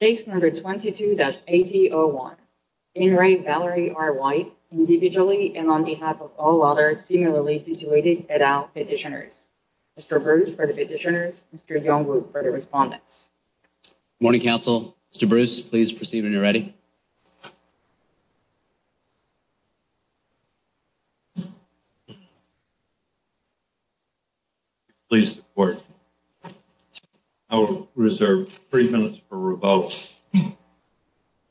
Case number 22-8001, Ayn Rae Valerie R. White, individually and on behalf of all other similarly situated et al petitioners. Mr. Bruce for the petitioners, Mr. Youngwoo for the respondents. Good morning, Council. Mr. Bruce, please proceed when you're ready. Please support. I will reserve three minutes for revotes.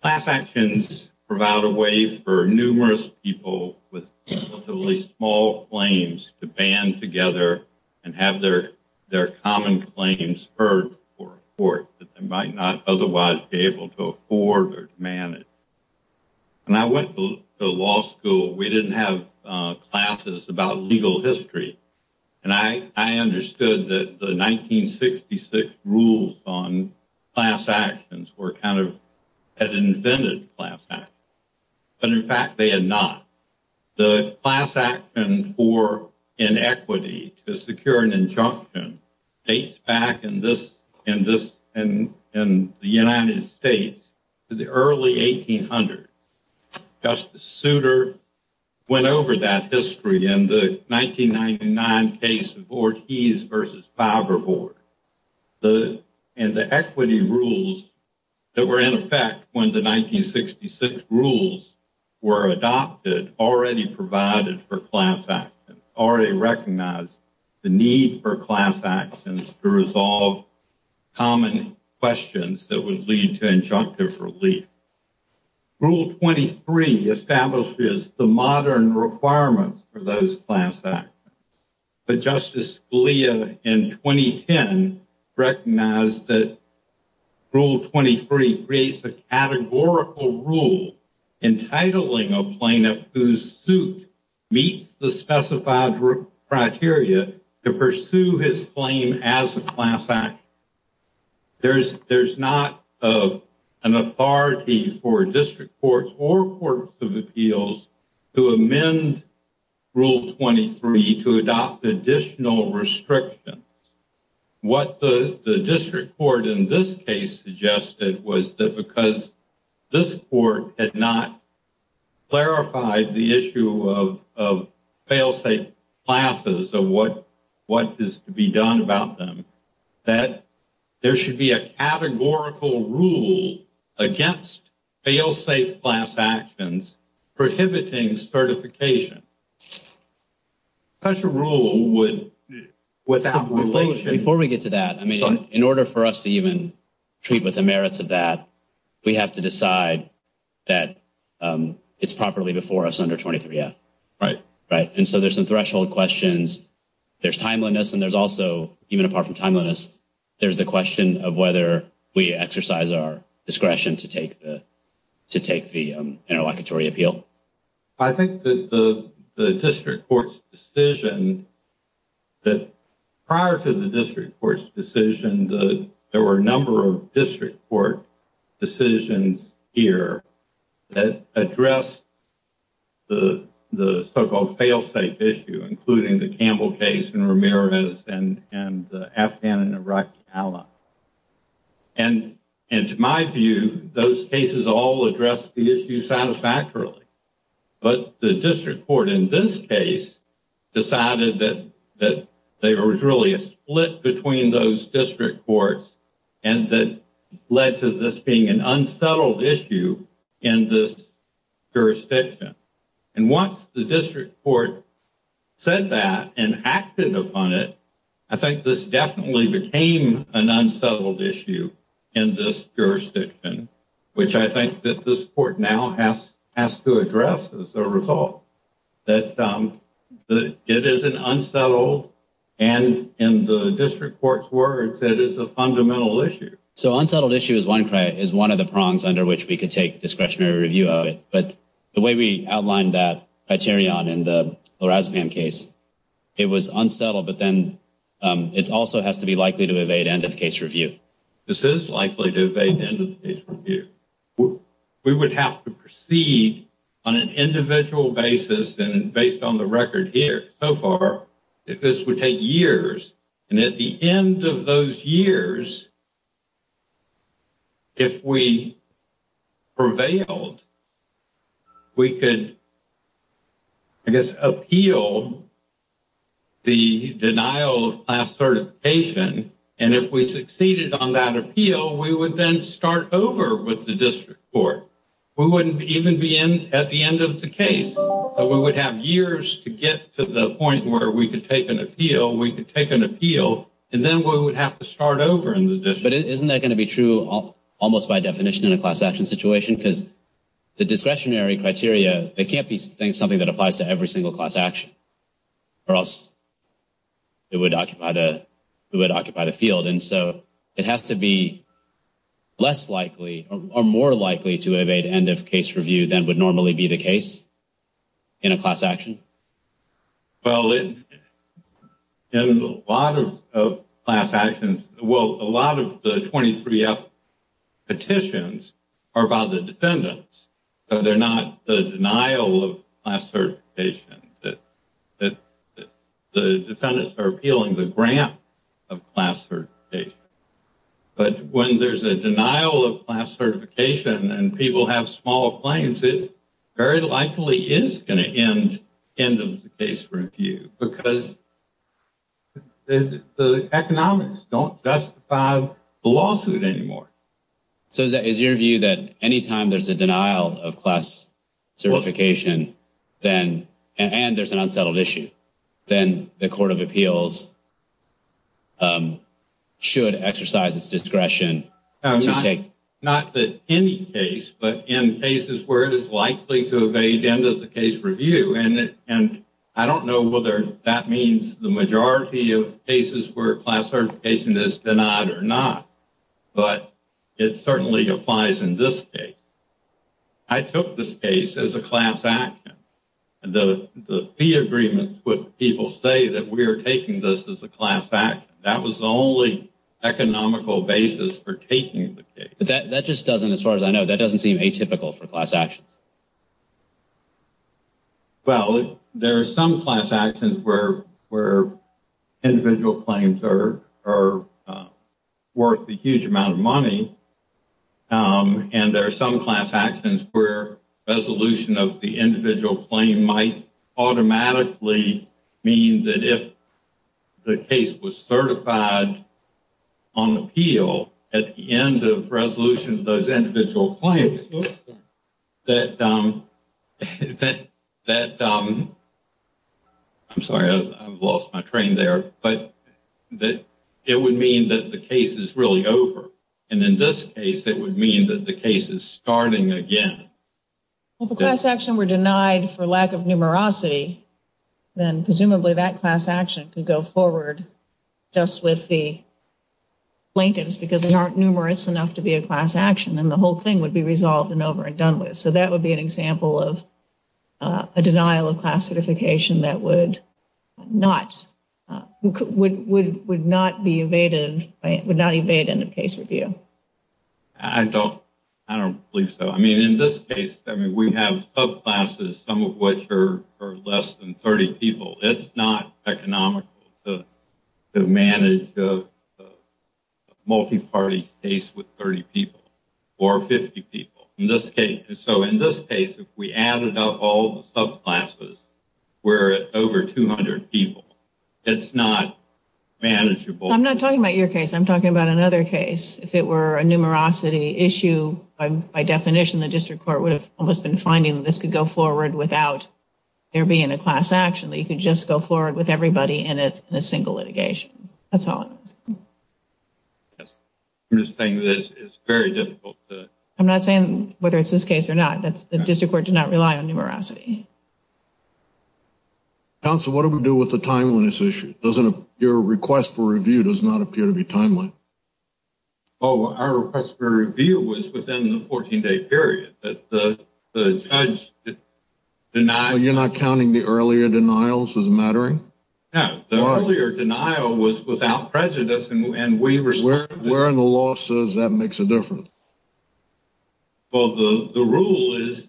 Class actions provide a way for numerous people with relatively small claims to band together and have their common claims heard for a court that they might not otherwise be able to afford or to manage. When I went to law school, we didn't have classes about legal history, and I understood that the 1966 rules on class actions were kind of, had invented class actions, but in fact they had not. The class action for inequity to secure an injunction dates back in this, in this, in, in the United States to the early 1800s. Justice Souter went over that history in the 1999 case of Ortiz versus Faber Board. The, and the equity rules that were in effect when the 1966 rules were adopted already provided for class actions, already recognized the need for class actions to resolve common questions that would lead to injunctive relief. Rule 23 establishes the modern requirements for those class actions, but Justice Scalia in 2010 recognized that Rule 23 creates a categorical rule entitling a plaintiff whose suit meets the specified criteria to pursue his claim as a class action. There's, there's not an authority for district courts or courts of appeals to amend Rule 23 to adopt additional restrictions. What the, the district court in this case suggested was that because this court had not clarified the issue of, of fail-safe classes of what, what is to be done about them, that there should be a categorical rule against fail-safe class actions prohibiting certification. Such a rule would, would... Before we get to that, I mean, in order for us to even treat with the merits of that, we have to decide that it's properly before us under 23-F. Right. Right. And so there's some threshold questions. There's timeliness and there's also, even apart from timeliness, there's the question of whether we exercise our discretion to take the, to take the interlocutory appeal. I think that the, the district court's decision that prior to the district court's decision, the, there were a number of district court decisions here that address the, the so-called fail-safe issue, including the Campbell case and Ramirez and, and the Afghan and Iraq ally. And, and to my view, those cases all address the issue satisfactorily. But the district court in this case decided that, that there was really a split between those district courts and that led to this being an unsettled issue in this jurisdiction. And once the district court said that and acted upon it, I think this definitely became an has to address as a result that it is an unsettled and in the district court's words, that is a fundamental issue. So unsettled issue is one, is one of the prongs under which we could take discretionary review of it. But the way we outlined that criterion in the Lorazepam case, it was unsettled, but then it also has to be likely to evade end of case review. This is likely to evade end of case review. We would have to proceed on an individual basis and based on the record here so far, if this would take years and at the end of those years, if we prevailed, we could, I guess, appeal the denial of class certification. And if we succeeded on that appeal, we would then start over with the district court. We wouldn't even be in at the end of the case. So we would have years to get to the point where we could take an appeal, we could take an appeal, and then we would have to start over in the district. But isn't that going to be true almost by definition in a class action situation? Because the discretionary criteria, they can't be something that applies to every single class action or else it would occupy the field. And so it has to be less likely or more likely to evade end of case review than would normally be the case in a class action. Well, in a lot of class actions, well, a lot of the 23F petitions are about the defendants. So they're not the denial of class certification. The defendants are appealing the grant of class certification. But when there's a denial of class certification and people have small claims, it very likely is going to end end of the case review because the economics don't justify the lawsuit anymore. So is your view that any time there's a denial of class certification, then, and there's an unsettled issue, then the Court of Appeals should exercise its discretion? Not in any case, but in cases where it is likely to evade end of the case review. And I don't know whether that means the majority of cases where class certification is denied or not. But it certainly applies in this case. I took this case as a class action. And the fee agreements with people say that we are taking this as a class action. That was the only economical basis for taking the case. But that just doesn't, as far as I know, that doesn't seem atypical for class actions. Well, there are some class actions where individual claims are worth a huge amount of money. And there are some class actions where resolution of the individual claim might automatically mean that if the case was certified on appeal at the end of resolution of those claims, that, I'm sorry, I've lost my train there, but that it would mean that the case is really over. And in this case, it would mean that the case is starting again. If a class action were denied for lack of numerosity, then presumably that class action could go forward just with the plaintiffs, because there aren't numerous enough to be a class action, and the whole thing would be resolved and over and done with. So that would be an example of a denial of class certification that would not, would not be evaded, would not evade end of case review. I don't, I don't believe so. I mean, in this case, I mean, we have subclasses, some of which are less than 30 people. It's not economical to manage the So in this case, if we added up all the subclasses, we're at over 200 people. It's not manageable. I'm not talking about your case. I'm talking about another case. If it were a numerosity issue, by definition, the district court would have almost been finding that this could go forward without there being a class action, that you could just go forward with everybody in it in a single litigation. That's all it is. Yes. I'm just saying that it's very I'm not saying whether it's this case or not, that's the district court did not rely on numerosity. Counsel, what do we do with the timeliness issue? Doesn't your request for review does not appear to be timely? Oh, our request for review was within the 14 day period that the judge did not. You're not counting the earlier denials as mattering? No, the earlier denial was without prejudice and we were. Where in the law says that makes a difference? Well, the rule is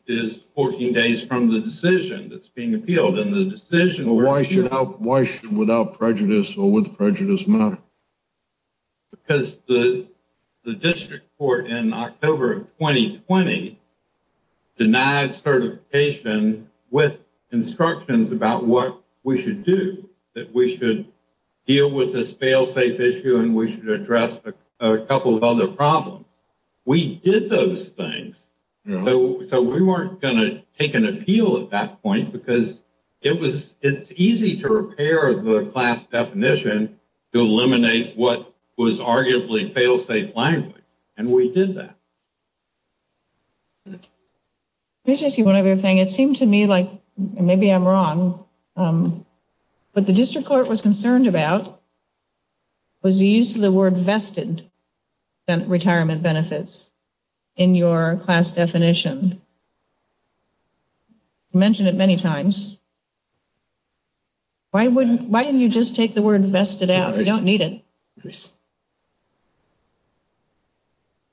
14 days from the decision that's being appealed in the decision. Why should without prejudice or with prejudice matter? Because the district court in October of 2020 denied certification with instructions about what we should do, that we should deal with this failsafe issue and we should address a couple of other problems. We did those things, so we weren't going to take an appeal at that point because it was it's easy to repair the class definition to eliminate what was arguably failsafe language and we did that. Let me just do one other thing. It seemed to me like maybe I'm wrong, but the district court was concerned about was the use of the word vested retirement benefits in your class definition. Mentioned it many times. Why wouldn't, why didn't you just take the word vested out? You don't need it. Yes.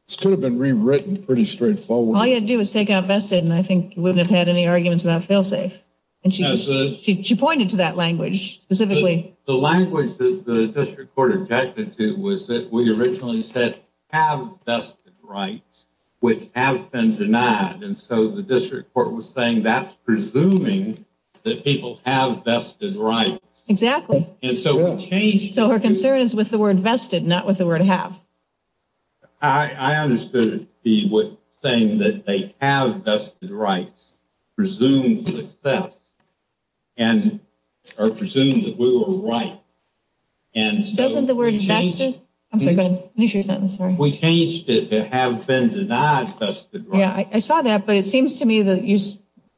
This could have been rewritten pretty straightforward. All you do is take out vested and I think wouldn't have had any arguments about failsafe and she pointed to that language specifically. The language that the district court objected to was that we originally said have vested rights which have been denied and so the district court was saying that's presuming that people have vested rights. Exactly. And so we changed. So her concern is with the word vested, not with the word have. I understood it with saying that they have vested rights, presumed success, and are presumed that we were right. And doesn't the word vested, I'm sorry, go ahead. We changed it to have been denied vested rights. Yeah, I saw that, but it seems to me that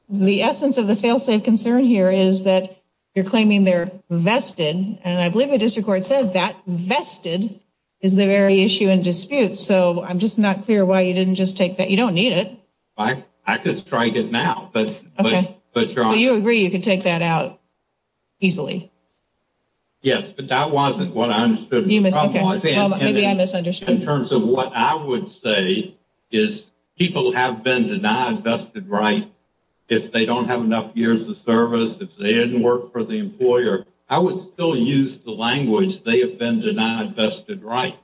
the essence of the failsafe concern here is that you're claiming they're vested and I believe the district court said that vested is the very issue in dispute. So I'm just not clear why you didn't just take that. You don't need it. I could strike it now, but you're on. So you agree you could take that out easily? Yes, but that wasn't what I understood. Maybe I misunderstood. In terms of what I would say is people have been denied vested rights if they don't have enough years of service. If they didn't work for the employer, I would still use the language. They have been denied vested rights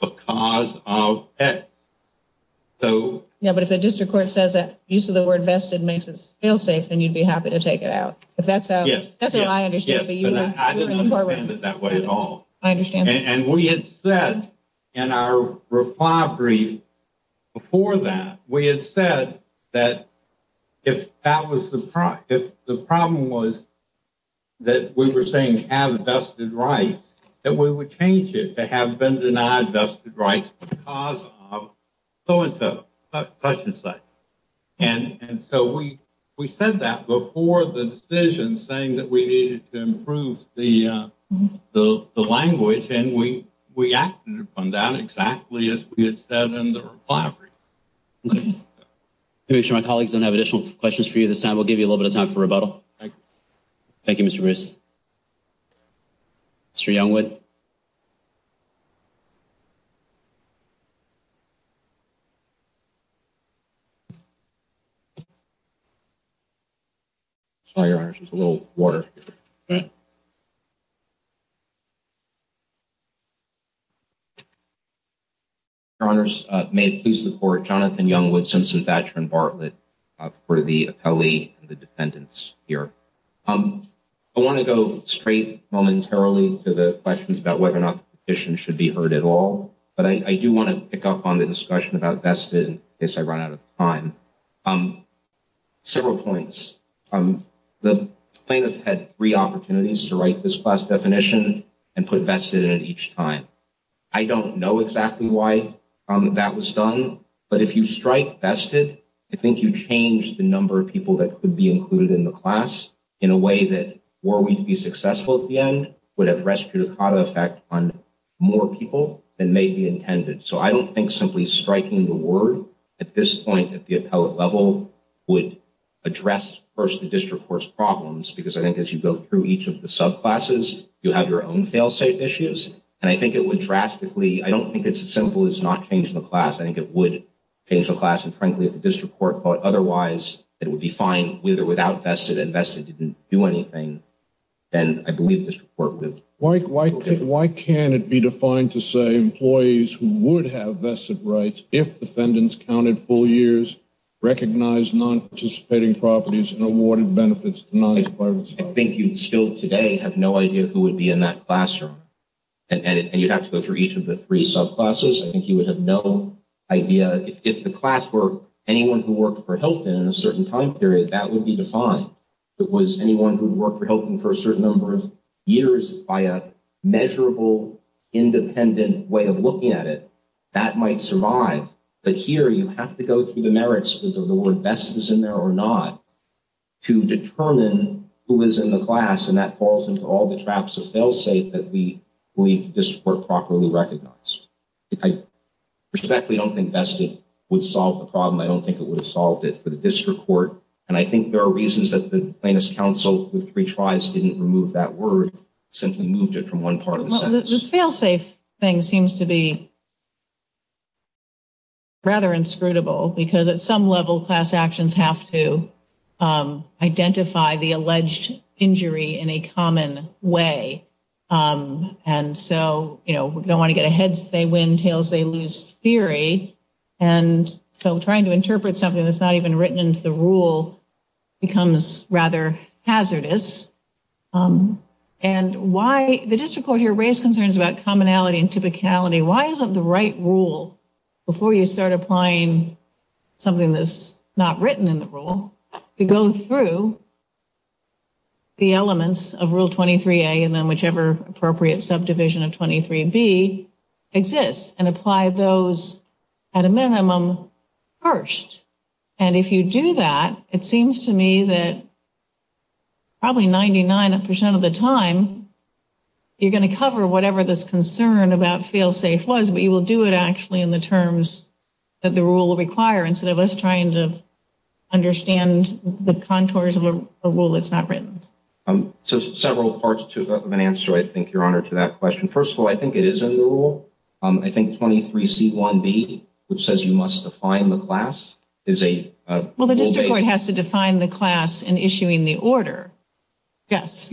because of that. Yeah, but if the district court says that use of the word vested makes it failsafe, then you'd be happy to take it out. That's how I understand it. But I didn't understand it that way at all. I understand. And we had said in our reply brief before that, we had said that if that was the problem, if the problem was that we were saying have vested rights, that we would change it to have been denied vested rights because of so and so, such and such. And so we said that before the decision saying that we needed to improve the language and we acted upon that exactly as we had said in the reply brief. Okay. Make sure my colleagues don't have additional questions for you this time. We'll give you a little bit of time for rebuttal. Thank you, Mr. Bruce. Mr. Youngwood. Sorry, your honor, just a little water. Your honor, may it please the court, Jonathan Youngwood, Simpson, Thatcher, and Bartlett for the appellee and the defendants here. I want to go straight momentarily to the questions about whether or not the petition should be heard at all. But I do want to pick up on the discussion about vested in case I run out of time. Several points. The plaintiff had three opportunities to write this class definition and put vested in each time. I don't know exactly why that was done. But if you strike vested, I think you change the number of people that could be included in the class in a way that were we to be successful at the end, would have restricted effect on more people than may be intended. So I don't think simply striking the word at this point at the appellate level would address first the district court's problems, because I think as you go through each of the subclasses, you have your own failsafe issues. And I think it would drastically. I don't think it's as simple as not changing the class. I think it would change the class. And frankly, at the district court thought otherwise, it would be fine with or without vested and vested didn't do anything. And I believe this report with. Why can't it be defined to say employees who would have vested rights if defendants counted full years, recognized non-participating properties and awarded benefits? I think you'd still today have no idea who would be in that classroom. And you'd have to go through each of the three subclasses. I think you would have no idea if the class were anyone who worked for Hilton in a certain time period that would be defined. It was anyone who worked for Hilton for a certain number of years by a measurable, independent way of looking at it that might survive. But here you have to go through the merits of the word best is in there or not to determine who is in the class. And that falls into all the traps of failsafe that we believe this were properly recognized. I respectfully don't think vested would solve the problem. I don't think it would have solved it for the district court. And I think there are reasons that the plaintiff's counsel with three tries didn't remove that word, simply moved it from one part of this failsafe thing seems to be. Rather inscrutable, because at some level, class actions have to identify the alleged injury in a common way. And so, you know, we don't want to get a heads, they win tails, they lose theory. And so trying to interpret something that's not even written into the rule becomes rather hazardous. And why the district court here raised concerns about commonality and typicality. Why isn't the right rule before you start applying something that's not written in the rule to go through the elements of Rule 23A and then whichever appropriate subdivision of 23B exists and apply those at a minimum first. And if you do that, it seems to me that probably 99% of the time, you're going to cover whatever this concern about failsafe was, but you will do it actually in the terms that the rule will require instead of us trying to understand the contours of a rule that's not written. So several parts to an answer, I think, Your Honor, to that question. First of all, I think it is in the rule. I think 23C1B, which says you must define the class, is a... Well, the district court has to define the class in issuing the order. Yes.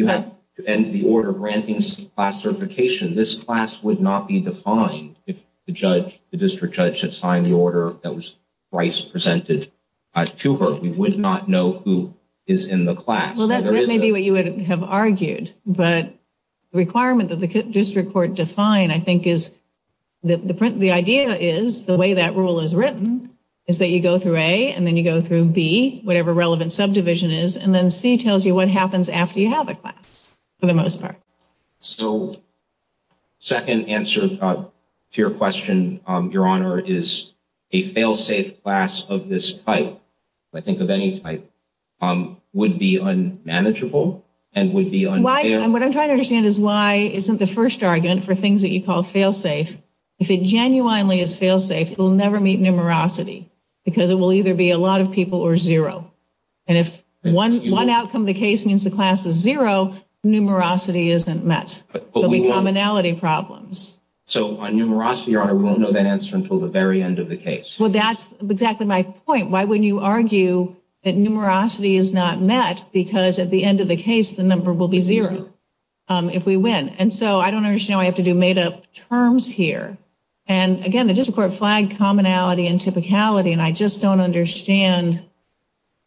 And the order granting class certification. This class would not be defined if the district judge had signed the order that was Bryce presented to her. We would not know who is in the class. Well, that may be what you would have argued, but the requirement that the district court define, I think, is the idea is the way that rule is written is that you go through A and then you go through B, whatever relevant subdivision is, and then C tells you what happens after you have a class, for the most part. So second answer to your question, Your Honor, is a fail-safe class of this type, I think of any type, would be unmanageable and would be unfair. And what I'm trying to understand is why isn't the first argument for things that you call fail-safe, if it genuinely is fail-safe, it will never meet numerosity because it will either be a lot of people or zero. And if one outcome of the case means the class is zero, numerosity isn't met. There will be commonality problems. So on numerosity, Your Honor, we won't know that answer until the very end of the case. Well, that's exactly my point. Why wouldn't you argue that numerosity is not met because at the end of the case, the number will be zero if we win. And so I don't understand why I have to do made-up terms here. And again, the district court flagged commonality and typicality, and I just don't understand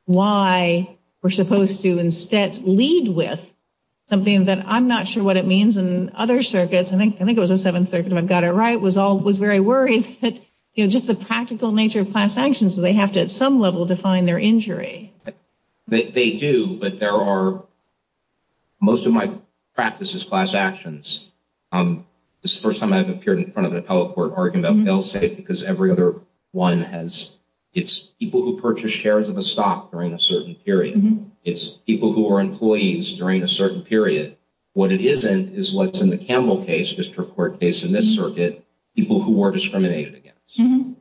why we're supposed to instead lead with something that I'm not sure what it means in other circuits. I think it was the Seventh Circuit, if I've got it right, was very worried that just the practical nature of class actions, they have to, at some level, define their injury. They do, but most of my practice is class actions. This is the first time I've appeared in front of a appellate court arguing about fail-safe because every other one has, it's people who purchase shares of a stock during a certain period. It's people who are employees during a certain period. What it isn't is what's in the Campbell case, district court case in this circuit, people who were discriminated against. In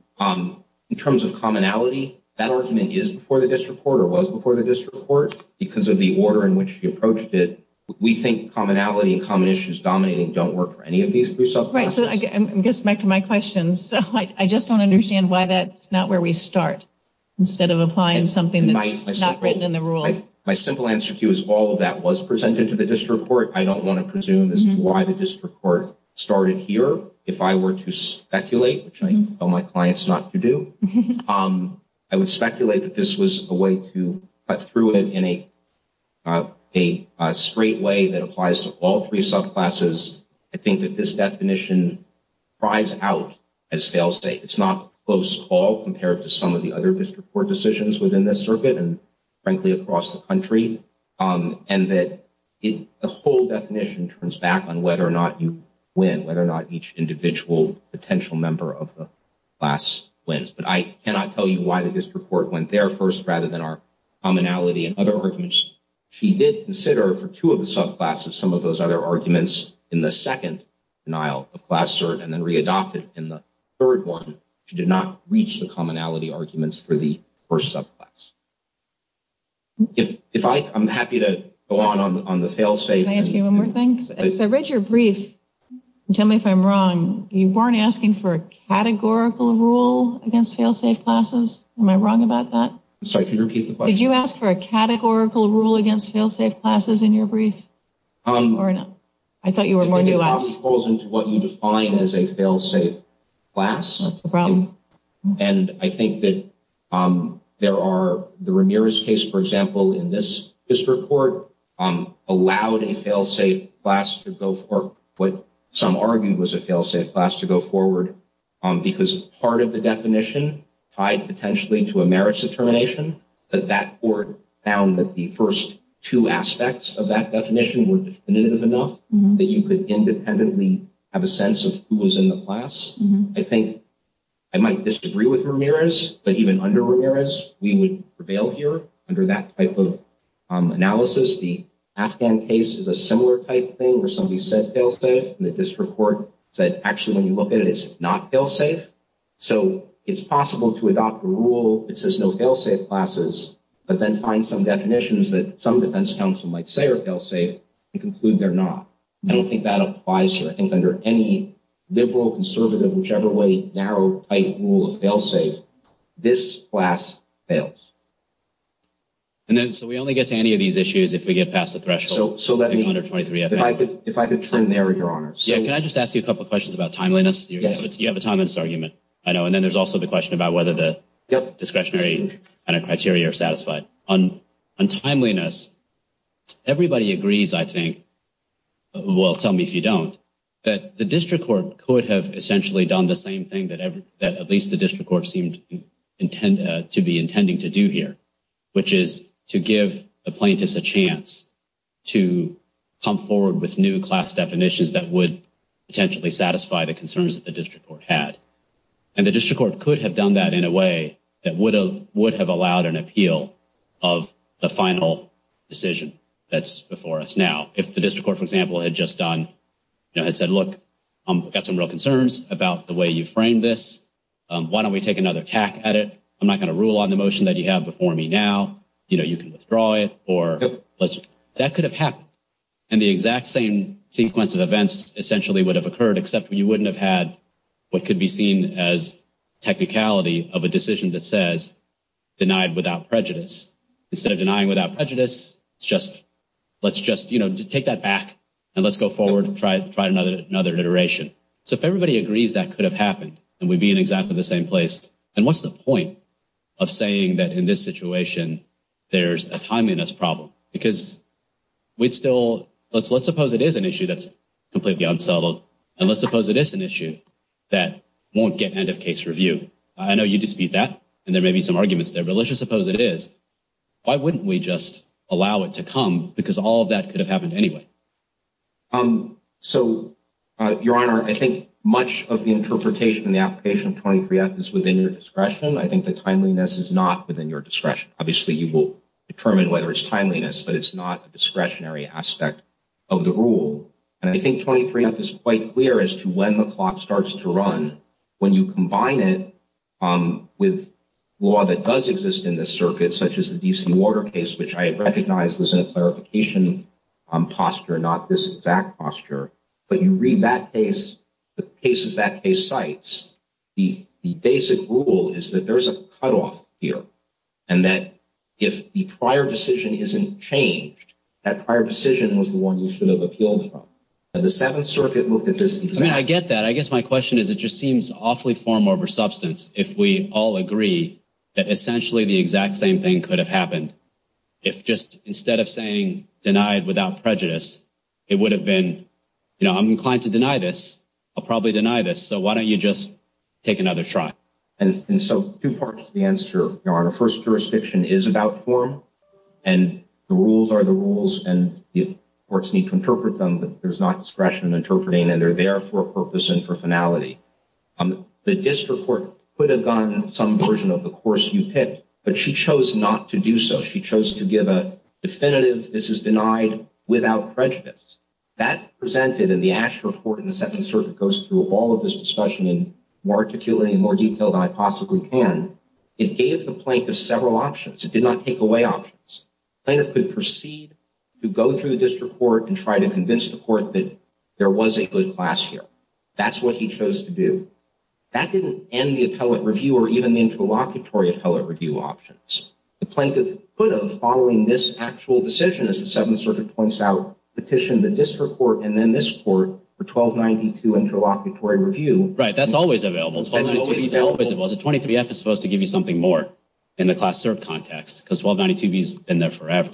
terms of commonality, that argument is before the district court or was before the district court because of the order in which she approached it. We think commonality and common issues dominating don't work for any of these three subclasses. So I guess back to my question, I just don't understand why that's not where we start, instead of applying something that's not written in the rules. My simple answer to you is all of that was presented to the district court. I don't want to presume as to why the district court started here. If I were to speculate, which I tell my clients not to do, I would speculate that this was a way to cut through it in a straight way that applies to all three subclasses. I think that this definition cries out, as sales say. It's not close at all compared to some of the other district court decisions within this circuit and, frankly, across the country. And that the whole definition turns back on whether or not you win, whether or not each individual potential member of the class wins. But I cannot tell you why the district court went there first rather than our commonality and other arguments. She did consider for two of the subclasses some of those other arguments in the second denial of class cert and then readopted in the third one. She did not reach the commonality arguments for the first subclass. I'm happy to go on on the fail-safe. Can I ask you one more thing? I read your brief. Tell me if I'm wrong. You weren't asking for a categorical rule against fail-safe classes. Am I wrong about that? Sorry, could you repeat the question? Did you ask for a categorical rule against fail-safe classes in your brief? I thought you were more nuanced. I think it probably falls into what you define as a fail-safe class. And I think that there are the Ramirez case, for example, in this district court allowed a fail-safe class to go for what some argued was a fail-safe class to go forward because part of the definition tied potentially to a merits determination that that court found that the first two aspects of that definition were definitive enough that you could independently have a sense of who was in the class. I think I might disagree with Ramirez, but even under Ramirez, we would prevail here under that type of analysis. The Afghan case is a similar type thing where somebody said fail-safe and the district court said, actually, when you look at it, it's not fail-safe. So it's possible to adopt a rule that says no fail-safe classes, but then find some definitions that some defense counsel might say are fail-safe and conclude they're not. I don't think that applies here. I think under any liberal, conservative, whichever way, narrow, tight rule of fail-safe, this class fails. And then so we only get to any of these issues if we get past the threshold. So if I could extend there, Your Honor. Can I just ask you a couple of questions about timeliness? You have a timeliness argument. I know. And then there's also the question about whether the discretionary criteria are satisfied. On timeliness, everybody agrees, I think, well, tell me if you don't, that the district court could have essentially done the same thing that at least the district court seemed to be intending to do here, which is to give the plaintiffs a chance to come forward with new class definitions that would potentially satisfy the concerns that the district court had. And the district court could have done that in a way that would have allowed an appeal of the final decision that's before us now. If the district court, for example, had just done, you know, had said, look, I've got some real concerns about the way you framed this. Why don't we take another tack at it? I'm not going to rule on the motion that you have before me now. You know, you can withdraw it or let's, that could have happened. And the exact same sequence of events essentially would have occurred, except you wouldn't have had what could be seen as technicality of a decision that says denied without prejudice. Instead of denying without prejudice, it's just, let's just, you know, take that back and let's go forward and try another iteration. So if everybody agrees that could have happened and we'd be in exactly the same place. And what's the point of saying that in this situation there's a timeliness problem? Because we'd still, let's suppose it is an issue that's completely unsettled. And let's suppose it is an issue that won't get end of case review. I know you dispute that and there may be some arguments there, but let's just suppose it is. Why wouldn't we just allow it to come? Because all of that could have happened anyway. So, Your Honor, I think much of the interpretation and the application of 23F is within your discretion. I think the timeliness is not within your discretion. Obviously, you will determine whether it's timeliness, but it's not a discretionary aspect of the rule. And I think 23F is quite clear as to when the clock starts to run. When you combine it with law that does exist in the circuit, such as the DC Water case, which I recognize was in a clarification posture, not this exact posture. But you read that case, the cases that case cites, the basic rule is that there's a cutoff here. And that if the prior decision isn't changed, that prior decision was the one you should have appealed from. And the Seventh Circuit looked at this. I mean, I get that. I guess my question is, it just seems awfully form over substance if we all agree that essentially the exact same thing could have happened. If just instead of saying denied without prejudice, it would have been, you know, I'm inclined to deny this. I'll probably deny this. So why don't you just take another try? And so two parts to the answer, Your Honor. First, jurisdiction is about form. And the rules are the rules. And the courts need to interpret them. But there's not discretion in interpreting. And they're there for a purpose and for finality. The district court could have gotten some version of the course you picked. But she chose not to do so. She chose to give a definitive, this is denied without prejudice. That presented in the actual report in the Second Circuit goes through all of this discussion more articulately and more detailed than I possibly can. It gave the plaintiff several options. It did not take away options. Plaintiff could proceed to go through the district court and try to convince the court that there was a good class here. That's what he chose to do. That didn't end the appellate review or even the interlocutory appellate review options. The plaintiff could have, following this actual decision, as the Seventh Circuit points out, petitioned the district court and then this court for 1292 interlocutory review. Right. That's always available. 1292 is always available. The 23-F is supposed to give you something more in the class cert context. Because 1292-B has been there forever.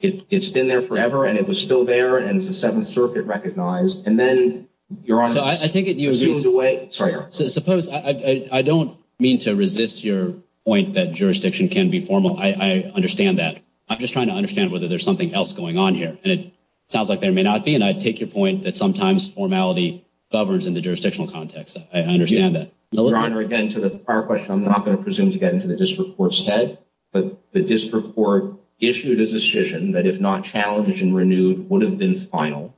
It's been there forever. And it was still there. And it's the Seventh Circuit recognized. And then, Your Honor, it's assumed away. Sorry, Your Honor. Suppose, I don't mean to resist your point that jurisdiction can be formal. I understand that. I'm just trying to understand whether there's something else going on here. And it sounds like there may not be. I take your point that sometimes formality governs in the jurisdictional context. I understand that. Your Honor, again, to the prior question, I'm not going to presume to get into the district court's head. But the district court issued a decision that, if not challenged and renewed, would have been final.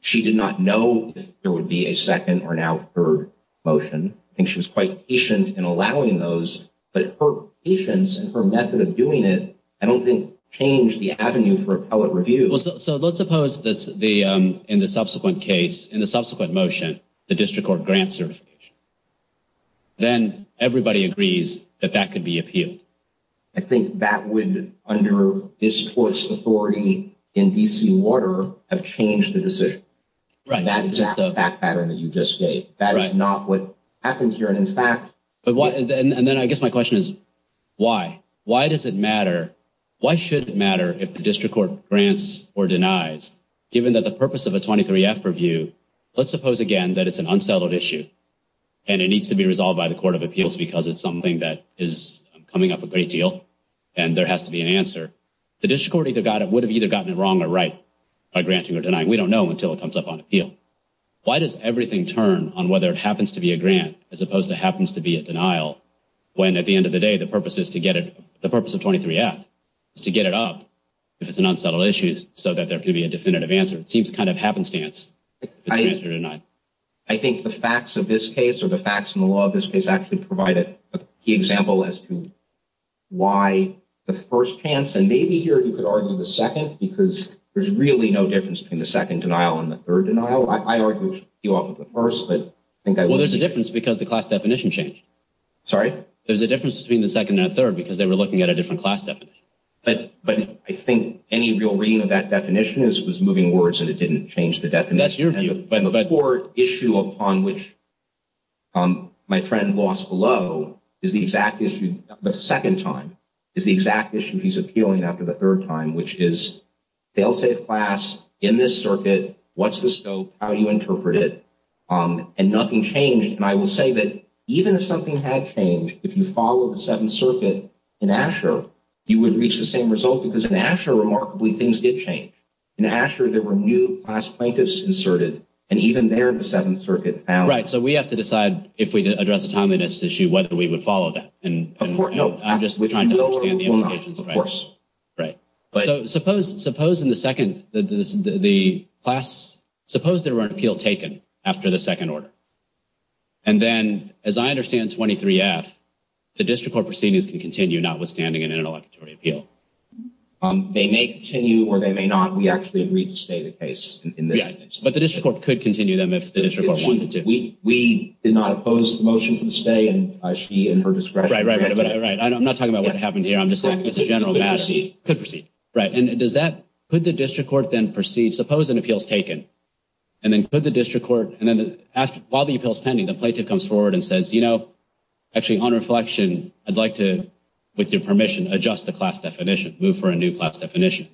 She did not know if there would be a second or now third motion. I think she was quite patient in allowing those. But her patience and her method of doing it, I don't think, changed the avenue for appellate review. So let's suppose in the subsequent case, in the subsequent motion, the district court grants certification. Then everybody agrees that that could be appealed. I think that would, under this court's authority in D.C. water, have changed the decision. That exact back pattern that you just gave. That is not what happened here. And in fact. And then I guess my question is, why? Why does it matter? Why should it matter if the district court grants or denies, given that the purpose of a 23-F review. Let's suppose, again, that it's an unsettled issue. And it needs to be resolved by the Court of Appeals because it's something that is coming up a great deal. And there has to be an answer. The district court would have either gotten it wrong or right by granting or denying. We don't know until it comes up on appeal. Why does everything turn on whether it happens to be a grant as opposed to happens to be a denial? When at the end of the day, the purpose is to get it. The purpose of 23-F is to get it up if it's an unsettled issue so that there could be a definitive answer. It seems kind of happenstance. I think the facts of this case or the facts in the law of this case actually provided a key example as to why the first chance. And maybe here you could argue the second because there's really no difference between the second denial and the third denial. I argue you off of the first. But I think there's a difference because the class definition changed. There's a difference between the second and third because they were looking at a different class definition. But I think any real reading of that definition is it was moving words and it didn't change the definition. That's your view. But the core issue upon which my friend lost below is the exact issue the second time is the exact issue he's appealing after the third time, which is they'll say class in this circuit. What's the scope? How do you interpret it? And nothing changed. And I will say that even if something had changed, if you follow the Seventh Circuit in Asher, you would reach the same result. Because in Asher, remarkably, things did change. In Asher, there were new class plaintiffs inserted. And even there, the Seventh Circuit found. Right. So we have to decide if we address a timeliness issue, whether we would follow that. And I'm just trying to understand the implications. Of course. Right. But suppose in the second, the class, suppose there were an appeal taken after the second order. And then, as I understand 23F, the district court proceedings can continue notwithstanding an interlocutory appeal. They may continue or they may not. We actually agreed to stay the case in this instance. But the district court could continue them if the district court wanted to. We did not oppose the motion for the stay and she in her discretion. Right, right, right. I'm not talking about what happened here. I'm just saying it's a general matter. Could proceed. Right. And does that put the district court then proceed? Suppose an appeal is taken and then could the district court and then while the appeal is pending, the plaintiff comes forward and says, you know, actually on reflection, I'd like to, with your permission, adjust the class definition, move for a new class definition.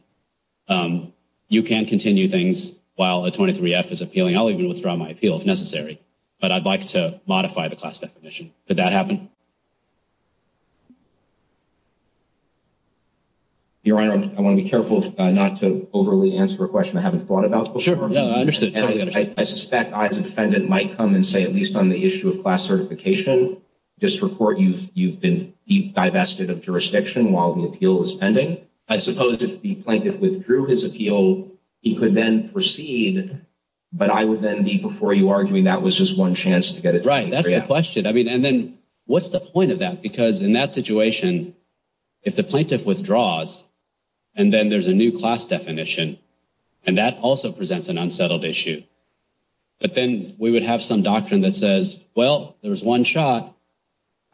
You can continue things while a 23F is appealing. I'll even withdraw my appeal if necessary. But I'd like to modify the class definition. Could that happen? Your Honor, I want to be careful not to overly answer a question. Yeah, I understand. I suspect I as a defendant might come and say, at least on the issue of class certification, district court, you've been divested of jurisdiction while the appeal is pending. I suppose if the plaintiff withdrew his appeal, he could then proceed. But I would then be before you arguing that was just one chance to get it. Right. That's the question. I mean, and then what's the point of that? Because in that situation, if the plaintiff withdraws and then there's a new class definition and that also presents an unsettled issue, but then we would have some doctrine that says, well, there was one shot.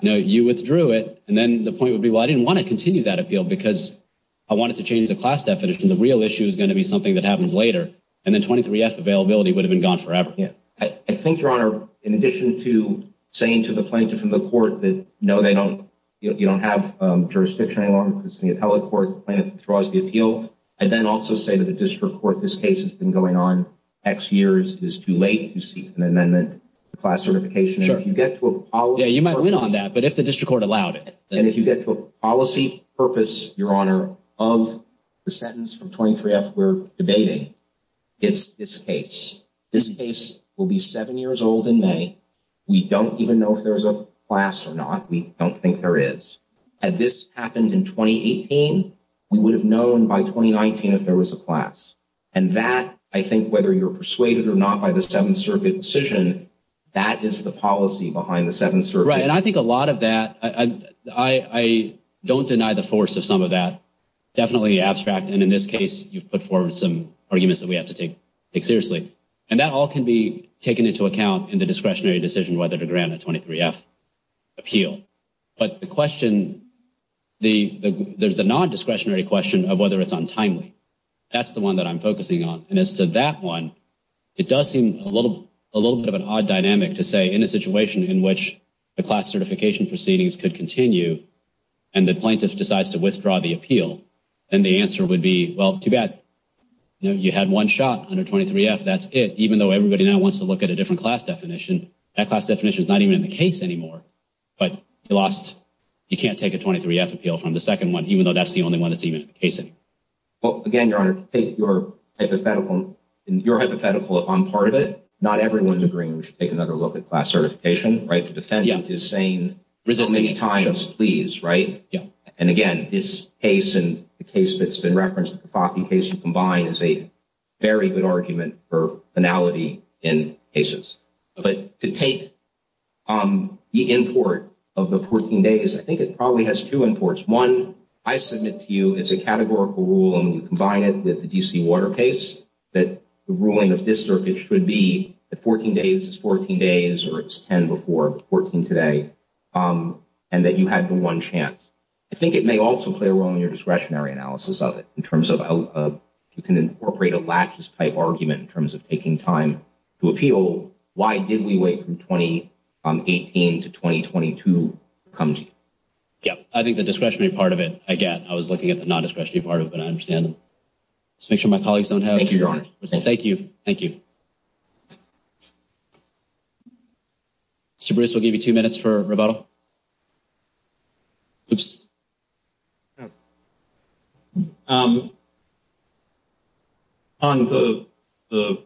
No, you withdrew it. And then the point would be, well, I didn't want to continue that appeal because I wanted to change the class definition. The real issue is going to be something that happens later. And then 23F availability would have been gone forever. Yeah, I think, Your Honor, in addition to saying to the plaintiff and the court that, no, they don't, you know, you don't have jurisdiction any longer because the district court, this case has been going on X years. It's too late to seek an amendment to class certification. And if you get to a policy purpose. Yeah, you might win on that, but if the district court allowed it. And if you get to a policy purpose, Your Honor, of the sentence from 23F we're debating, it's this case. This case will be seven years old in May. We don't even know if there's a class or not. We don't think there is. Had this happened in 2018, we would have known by 2019 if there was a class. And that, I think, whether you're persuaded or not by the Seventh Circuit decision, that is the policy behind the Seventh Circuit. Right. And I think a lot of that, I don't deny the force of some of that. Definitely abstract. And in this case, you've put forward some arguments that we have to take seriously. And that all can be taken into account in the discretionary decision whether to grant a 23F appeal. But the question, there's the non-discretionary question of whether it's untimely. That's the one that I'm focusing on. And as to that one, it does seem a little bit of an odd dynamic to say, in a situation in which the class certification proceedings could continue and the plaintiff decides to withdraw the appeal, then the answer would be, well, too bad, you know, you had one shot under 23F, that's it. Even though everybody now wants to look at a different class definition, that class definition is not even in the case anymore. But you lost, you can't take a 23F appeal from the second one, even though that's the only one that's even in the case anymore. Well, again, Your Honor, to take your hypothetical on part of it, not everyone's agreeing we should take another look at class certification, right? The defendant is saying so many times, please, right? And again, this case and the case that's been referenced in the case you combined is a very good argument for finality in cases. But to take the import of the 14 days, I think it probably has two imports. One, I submit to you, it's a categorical rule, and you combine it with the DC water case, that the ruling of this circuit should be the 14 days is 14 days, or it's 10 before 14 today, and that you had the one chance. I think it may also play a role in your discretionary analysis of it, in terms of you can incorporate a laches type argument in terms of taking time to appeal. Why did we wait from 2018 to 2022 to come to you? Yeah, I think the discretionary part of it, again, I was looking at the non-discretionary part of it, but I understand. Let's make sure my colleagues don't have. Thank you, Your Honor. Thank you. Thank you. Supervisor, I'll give you two minutes for rebuttal. Oops. On the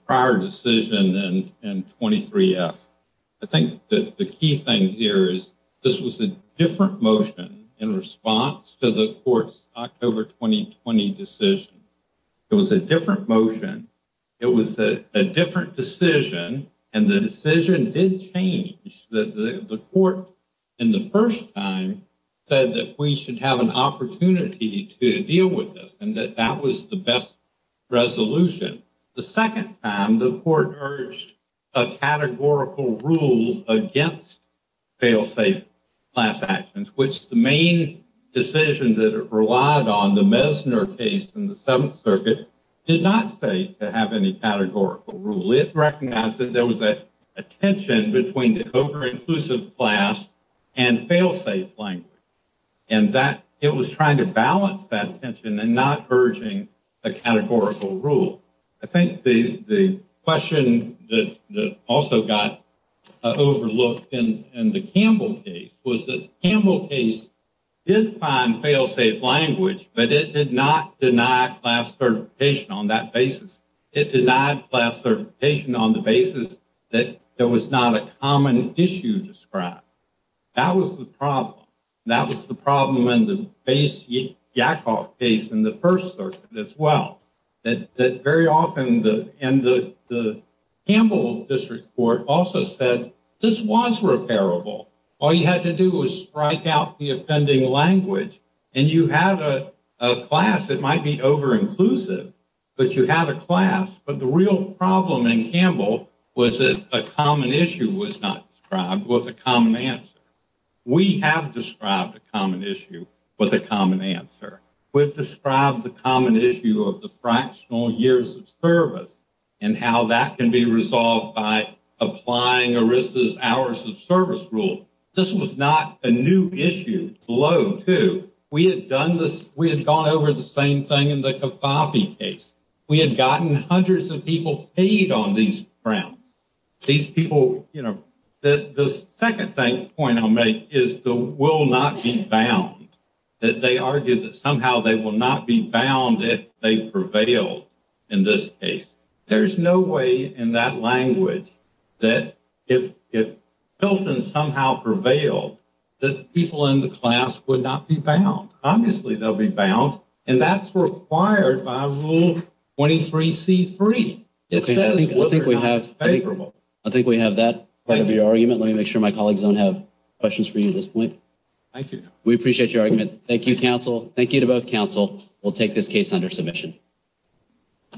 prior decision and 23F, I think that the key thing here is, this was a different motion in response to the court's October 2020 decision. It was a different motion, it was a different decision, and the decision did change. The court, in the first time, said that we should have an opportunity to deal with this, and that that was the best resolution. The second time, the court urged a categorical rule against fail-safe class actions, which the main decision that it relied on, the Messner case in the Seventh Circuit, did not say to have any categorical rule. It recognized that there was a tension between the over-inclusive class and fail-safe language, and that it was trying to balance that tension and not urging a categorical rule. I think the question that also got overlooked in the Campbell case was that the Campbell case did find fail-safe language, but it did not deny class certification on that basis. It denied class certification on the basis that there was not a common issue described. That was the problem. That was the problem in the base Yakov case in the First Circuit as well, that very often the Campbell District Court also said this was repairable. All you had to do was strike out the offending language, and you had a class that might be over-inclusive, but you had a class. But the real problem in Campbell was that a common issue was not described with a common answer. We have described a common issue with a common answer. We've described the common issue of the fractional years of service and how that can be resolved by applying ERISA's hours of service rule. This was not a new issue below, too. We had gone over the same thing in the Cofafi case. We had gotten hundreds of people paid on these grounds. These people, you know, the second point I'll make is the will not be bound, that they argued that somehow they will not be bound if they prevail in this case. There's no way in that language that if Pilton somehow prevailed, that the people in the class would not be bound. Obviously, they'll be bound, and that's required by Rule 23C-3. Okay, I think we have that part of your argument. Let me make sure my colleagues don't have questions for you at this point. Thank you. We appreciate your argument. Thank you, counsel. Thank you to both counsel. We'll take this case under submission.